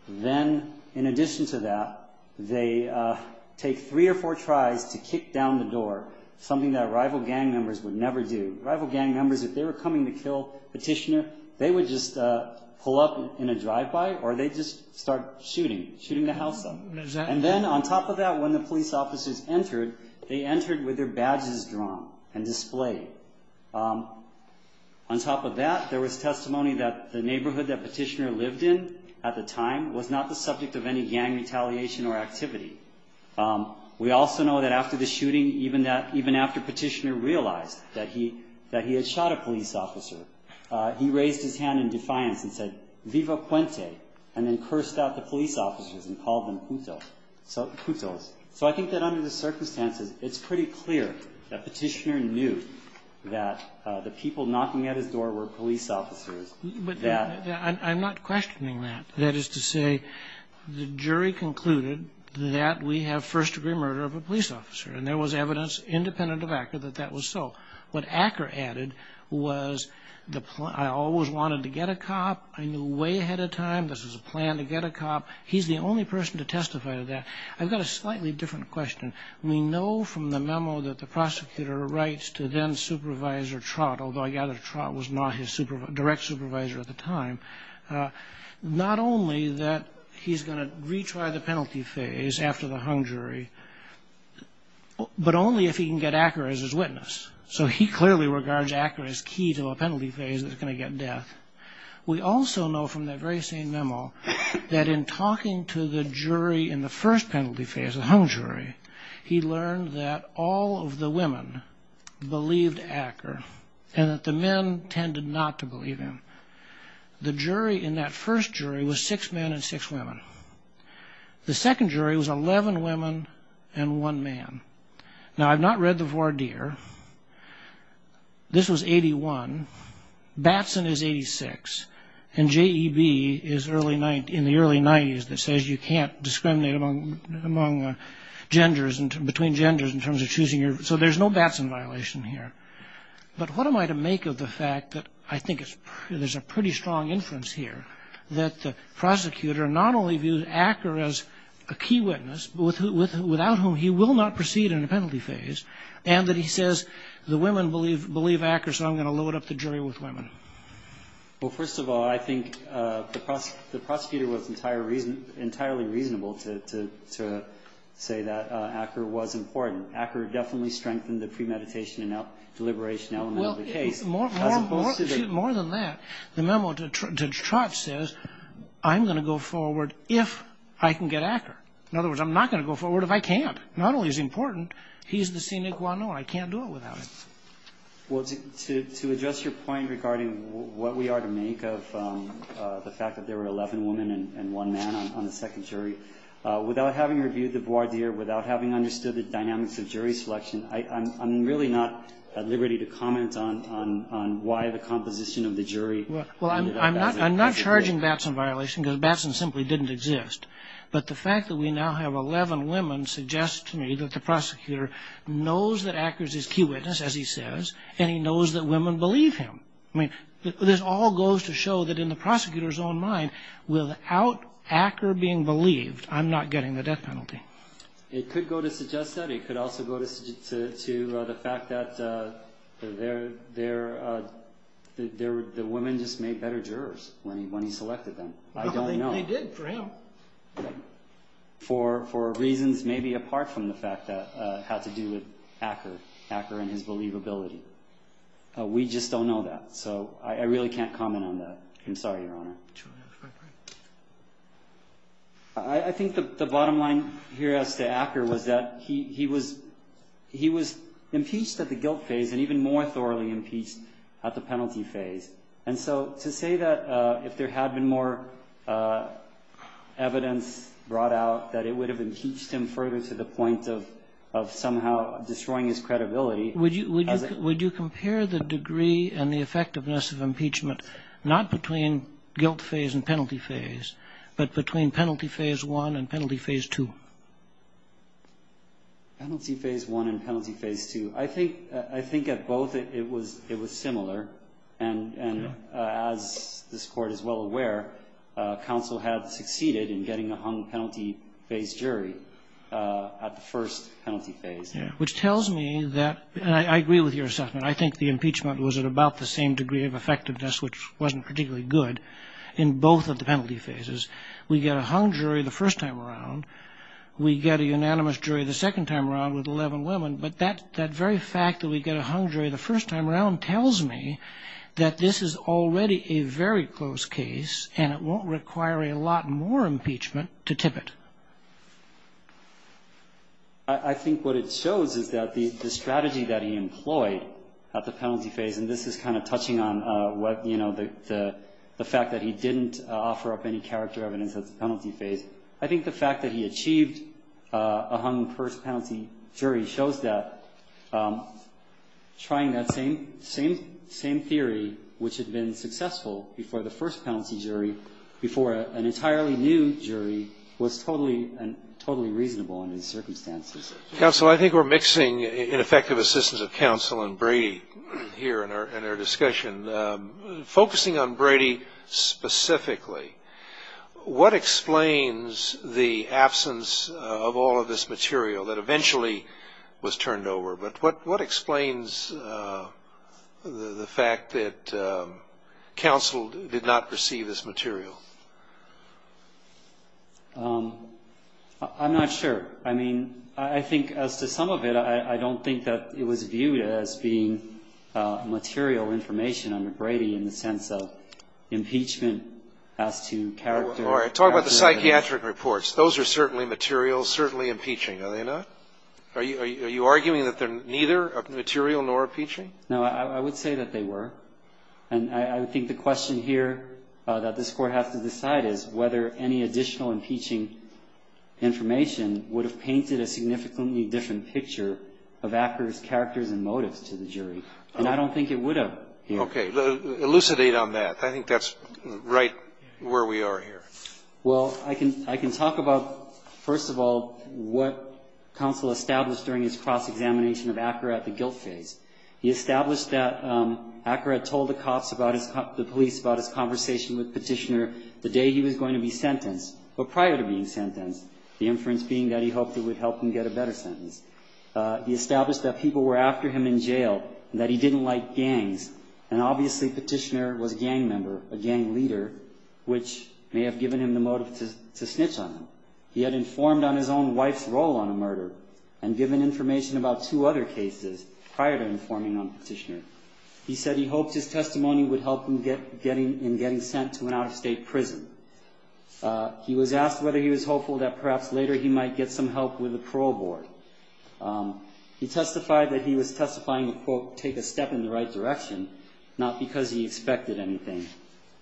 Then, in addition to that, they take three or four tries to kick down the door, something that rival gang members would never do. Rival gang members, if they were coming to kill Petitioner, they would just pull up in a drive-by or they'd just start shooting, shooting the house up. And then, on top of that, when the police officers entered, they entered with their badges drawn and displayed. On top of that, there was testimony that the neighborhood that Petitioner lived in at the time was not the subject of any gang retaliation or activity. We also know that after the shooting, even after Petitioner realized that he had shot a police officer, he raised his hand in defiance and said, Viva Puente, and then cursed out the police officers and called them putos. So I think that under the circumstances, it's pretty clear that Petitioner knew that the people knocking at his door were police officers. But I'm not questioning that. That is to say, the jury concluded that we have first-degree murder of a police officer, and there was evidence independent of ACCA that that was so. What ACCA added was, I always wanted to get a cop. I knew way ahead of time this was a plan to get a cop. He's the only person to testify to that. I've got a slightly different question. We know from the memo that the prosecutor writes to then-supervisor Trott, although I gather Trott was not his direct supervisor at the time, not only that he's going to retry the penalty phase after the hung jury, but only if he can get ACCA as his witness. So he clearly regards ACCA as key to a penalty phase that's going to get death. We also know from that very same memo that in talking to the jury in the first penalty phase, the hung jury, he learned that all of the women believed ACCA and that the men tended not to believe him. The jury in that first jury was six men and six women. The second jury was 11 women and one man. Now, I've not read the voir dire. This was 81. Batson is 86. And JEB is in the early 90s that says you can't discriminate between genders in terms of choosing your, so there's no Batson violation here. But what am I to make of the fact that I think there's a pretty strong inference here that the prosecutor not only viewed ACCA as a key witness, but without whom he will not proceed in a penalty phase, and that he says the women believe ACCA, so I'm going to load up the jury with women. Well, first of all, I think the prosecutor was entirely reasonable to say that ACCA was important. ACCA definitely strengthened the premeditation and deliberation element of the case. More than that, the memo to Trott says I'm going to go forward if I can get ACCA. In other words, I'm not going to go forward if I can't. Not only is he important, he's the sine qua non. I can't do it without him. Well, to address your point regarding what we are to make of the fact that there were 11 women and one man on the second jury, without having reviewed the voir dire, without having understood the dynamics of jury selection, I'm really not at liberty to comment on why the composition of the jury. Well, I'm not charging Batson violation because Batson simply didn't exist. But the fact that we now have 11 women suggests to me that the prosecutor knows that ACCA is his key witness, as he says, and he knows that women believe him. I mean, this all goes to show that in the prosecutor's own mind, without ACCA being believed, I'm not getting the death penalty. It could go to suggest that. It could also go to the fact that the women just made better jurors when he selected them. I don't know. They did for him. For reasons maybe apart from the fact that it had to do with ACCA and his believability. We just don't know that, so I really can't comment on that. I'm sorry, Your Honor. I think the bottom line here as to Acker was that he was impeached at the guilt phase and even more thoroughly impeached at the penalty phase. And so to say that if there had been more evidence brought out, that it would have impeached him further to the point of somehow destroying his credibility. Would you compare the degree and the effectiveness of impeachment, not between guilt phase and penalty phase, but between penalty phase one and penalty phase two? Penalty phase one and penalty phase two. I think at both it was similar. And as this Court is well aware, counsel had succeeded in getting a hung penalty phase jury at the first penalty phase. Which tells me that, and I agree with your assessment, I think the impeachment was at about the same degree of effectiveness, which wasn't particularly good, in both of the penalty phases. We get a hung jury the first time around. We get a unanimous jury the second time around with 11 women. But that very fact that we get a hung jury the first time around tells me that this is already a very close case and it won't require a lot more impeachment to tip it. I think what it shows is that the strategy that he employed at the penalty phase, and this is kind of touching on the fact that he didn't offer up any character evidence at the penalty phase. I think the fact that he achieved a hung first penalty jury shows that trying that same theory, which had been successful before the first penalty jury, before an entirely new jury was totally reasonable in his circumstances. Counsel, I think we're mixing ineffective assistance of counsel and Brady here in our discussion. Focusing on Brady specifically, what explains the absence of all of this material that eventually was turned over? But what explains the fact that counsel did not receive this material? I'm not sure. I mean, I think as to some of it, I don't think that it was viewed as being material information under Brady in the sense of impeachment as to character. All right, talk about the psychiatric reports. Those are certainly materials, certainly impeaching, are they not? Are you arguing that they're neither material nor impeaching? No, I would say that they were. And I think the question here that this Court has to decide is whether any additional impeaching information would have painted a significantly different picture of actors, characters and motives to the jury. And I don't think it would have here. Okay. Elucidate on that. I think that's right where we are here. Well, I can talk about, first of all, what counsel established during his cross-examination of Acker at the guilt phase. He established that Acker had told the police about his conversation with Petitioner the day he was going to be sentenced, or prior to being sentenced, the inference being that he hoped it would help him get a better sentence. He established that people were after him in jail and that he didn't like gangs. And obviously Petitioner was a gang member, a gang leader, which may have given him the motive to snitch on him. He had informed on his own wife's role on a murder and given information about two other cases prior to informing on Petitioner. He said he hoped his testimony would help him in getting sent to an out-of-state prison. He was asked whether he was hopeful that perhaps later he might get some help with the parole board. He testified that he was testifying to, quote, take a step in the right direction, not because he expected anything,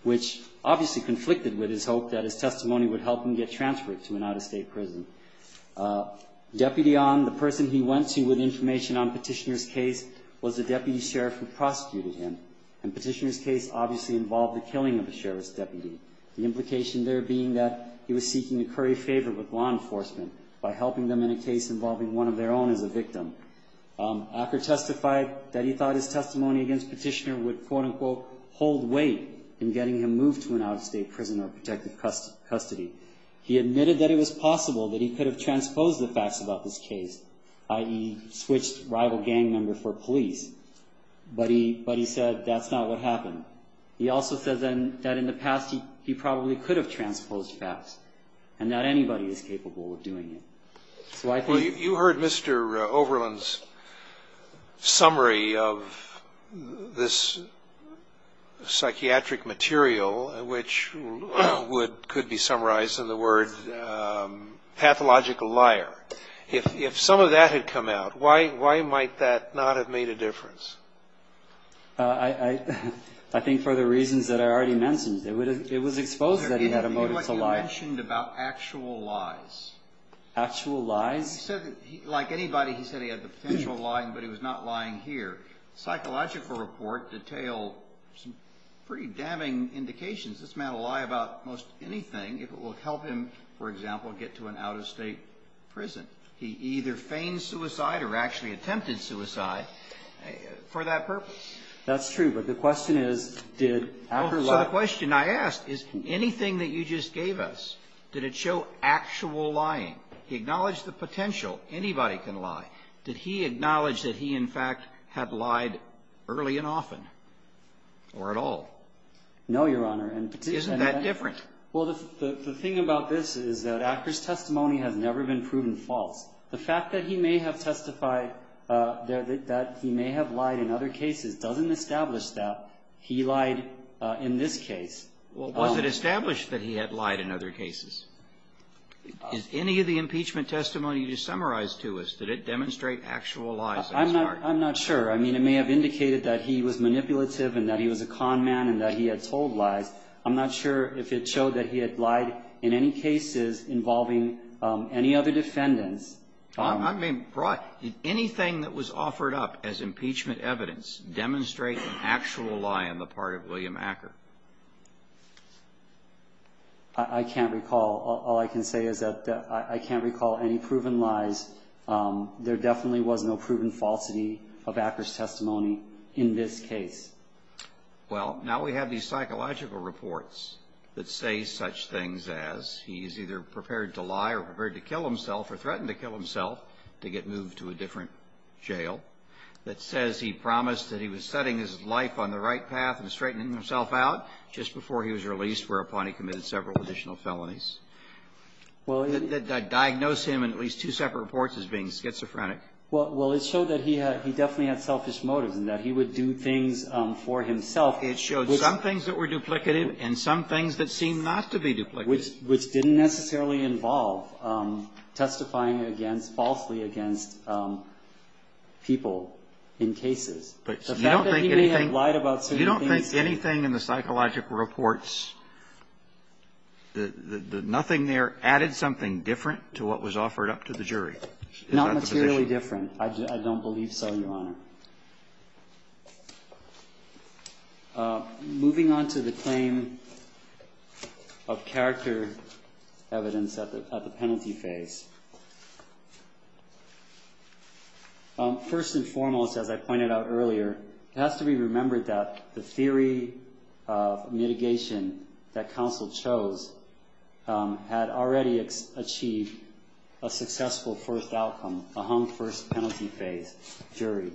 which obviously conflicted with his hope that his testimony would help him get transferred to an out-of-state prison. Deputy Ahn, the person he went to with information on Petitioner's case, was a deputy sheriff who prosecuted him. And Petitioner's case obviously involved the killing of a sheriff's deputy, the implication there being that he was seeking to curry favor with law enforcement by helping them in a case involving one of their own as a victim. Acker testified that he thought his testimony against Petitioner would, quote-unquote, hold weight in getting him moved to an out-of-state prison or protective custody. He admitted that it was possible that he could have transposed the facts about this case, i.e., switched rival gang member for police. But he said that's not what happened. He also says then that in the past he probably could have transposed facts, and not anybody is capable of doing it. So I think- Well, you heard Mr. Overland's summary of this psychiatric material, which could be summarized in the word pathological liar. If some of that had come out, why might that not have made a difference? I think for the reasons that I already mentioned. It was exposed that he had a motive to lie. You mentioned about actual lies. Actual lies? Like anybody, he said he had the potential of lying, but he was not lying here. Psychological report detailed some pretty damning indications. This man will lie about most anything if it will help him, for example, get to an out-of-state prison. He either feigned suicide or actually attempted suicide for that purpose. That's true, but the question is did Acker lie? So the question I ask is anything that you just gave us, did it show actual lying? He acknowledged the potential. Anybody can lie. Did he acknowledge that he, in fact, had lied early and often or at all? No, Your Honor. Isn't that different? Well, the thing about this is that Acker's testimony has never been proven false. The fact that he may have testified that he may have lied in other cases doesn't establish that he lied in this case. Was it established that he had lied in other cases? Is any of the impeachment testimony you just summarized to us, did it demonstrate actual lies? I'm not sure. I mean, it may have indicated that he was manipulative and that he was a con man and that he had told lies. I'm not sure if it showed that he had lied in any cases involving any other defendants. I mean, anything that was offered up as impeachment evidence demonstrate an actual lie on the part of William Acker? I can't recall. All I can say is that I can't recall any proven lies. There definitely was no proven falsity of Acker's testimony in this case. Well, now we have these psychological reports that say such things as he is either prepared to lie or prepared to kill himself or threaten to kill himself to get moved to a different jail. It says he promised that he was setting his life on the right path and straightening himself out just before he was released, whereupon he committed several additional felonies. Well, it did diagnose him in at least two separate reports as being schizophrenic. Well, it showed that he definitely had selfish motives and that he would do things for himself. It showed some things that were duplicative and some things that seemed not to be duplicative. Which didn't necessarily involve testifying against, falsely against, people in cases. But you don't think anything. The fact that he may have lied about certain things. You don't think anything in the psychological reports, the nothing there added something different to what was offered up to the jury? Not materially different. I don't believe so, Your Honor. Moving on to the claim of character evidence at the penalty phase. First and foremost, as I pointed out earlier, it has to be remembered that the theory of mitigation that counsel chose had already achieved a successful first outcome, a hung first penalty phase jury.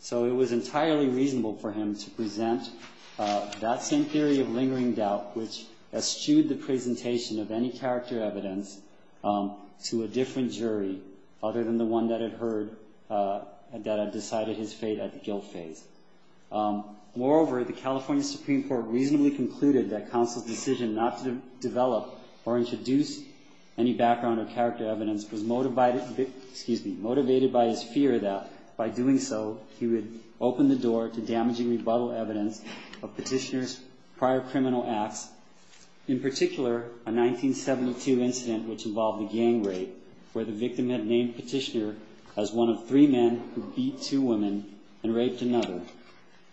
So it was entirely reasonable for him to present that same theory of lingering doubt, which eschewed the presentation of any character evidence to a different jury, other than the one that had heard that had decided his fate at the guilt phase. Moreover, the California Supreme Court reasonably concluded that counsel's decision not to develop or introduce any background or character evidence was motivated by his fear that by doing so, he would open the door to damaging rebuttal evidence of petitioner's prior criminal acts. In particular, a 1972 incident which involved a gang rape, where the victim had named petitioner as one of three men who beat two women and raped another.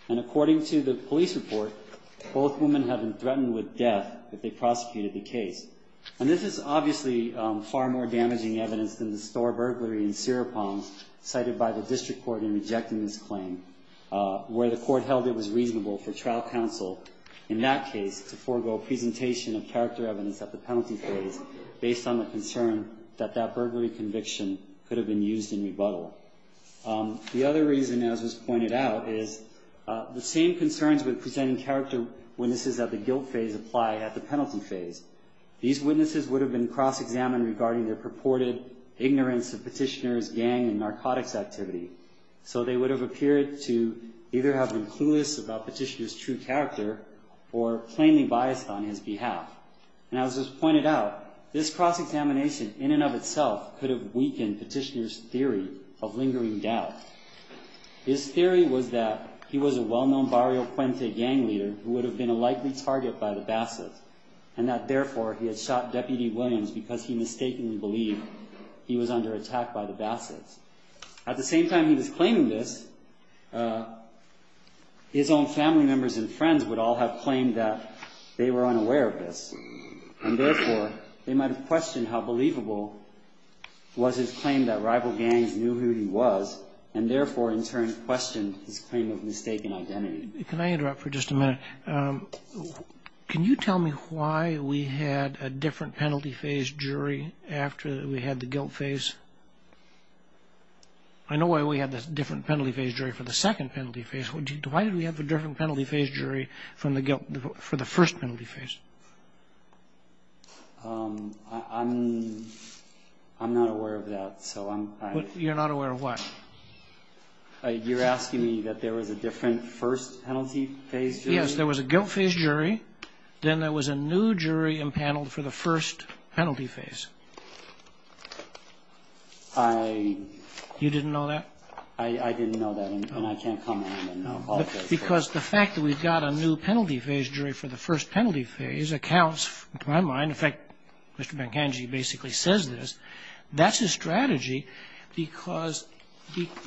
And according to the police report, both women had been threatened with death if they prosecuted the case. And this is obviously far more damaging evidence than the store burglary in Serapong, cited by the district court in rejecting this claim, where the court held it was reasonable for trial counsel, in that case, to forego presentation of character evidence at the penalty phase, based on the concern that that burglary conviction could have been used in rebuttal. The other reason, as was pointed out, is the same concerns with presenting character witnesses at the guilt phase apply at the penalty phase. These witnesses would have been cross-examined regarding their purported ignorance of petitioner's gang and narcotics activity. So they would have appeared to either have been clueless about petitioner's true character or plainly biased on his behalf. And as was pointed out, this cross-examination in and of itself could have weakened petitioner's theory of lingering doubt. His theory was that he was a well-known Barrio Puente gang leader who would have been a likely target by the Bassetts, and that therefore he had shot Deputy Williams because he mistakenly believed he was under attack by the Bassetts. At the same time he was claiming this, his own family members and friends would all have claimed that they were unaware of this, and therefore they might have questioned how believable was his claim that rival gangs knew who he was, and therefore in turn questioned his claim of mistaken identity. Can you tell me why we had a different penalty phase jury after we had the guilt phase? I know why we had this different penalty phase jury for the second penalty phase. Why did we have a different penalty phase jury for the first penalty phase? I'm not aware of that. You're not aware of what? You're asking me that there was a different first penalty phase jury? Yes, there was a guilt phase jury, then there was a new jury impaneled for the first penalty phase. I... You didn't know that? I didn't know that, and I can't come on and know about that. Because the fact that we've got a new penalty phase jury for the first penalty phase accounts, in my mind, in fact, Mr. Bankangi basically says this, that's his strategy because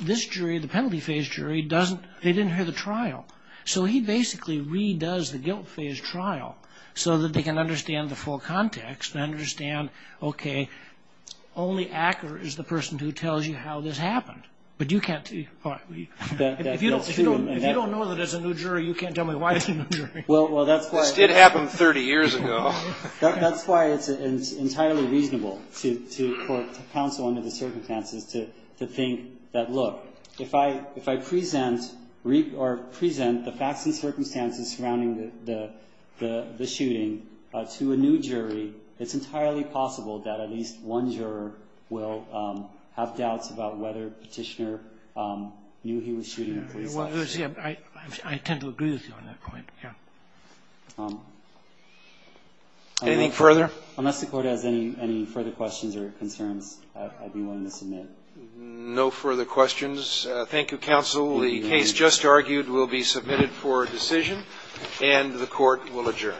this jury, the penalty phase jury, they didn't hear the trial. So he basically re-does the guilt phase trial so that they can understand the full context and understand, okay, only Acker is the person who tells you how this happened. But you can't... If you don't know that it's a new jury, you can't tell me why it's a new jury. This did happen 30 years ago. That's why it's entirely reasonable for counsel under the circumstances to think that, look, if I present the facts and circumstances surrounding the shooting to a new jury, it's entirely possible that at least one juror will have doubts about whether Petitioner knew he was shooting a police officer. I tend to agree with you on that point, yes. Anything further? Unless the Court has any further questions or concerns, I'd be willing to submit. No further questions. Thank you, counsel. The case just argued will be submitted for decision, and the Court will adjourn. Thank you.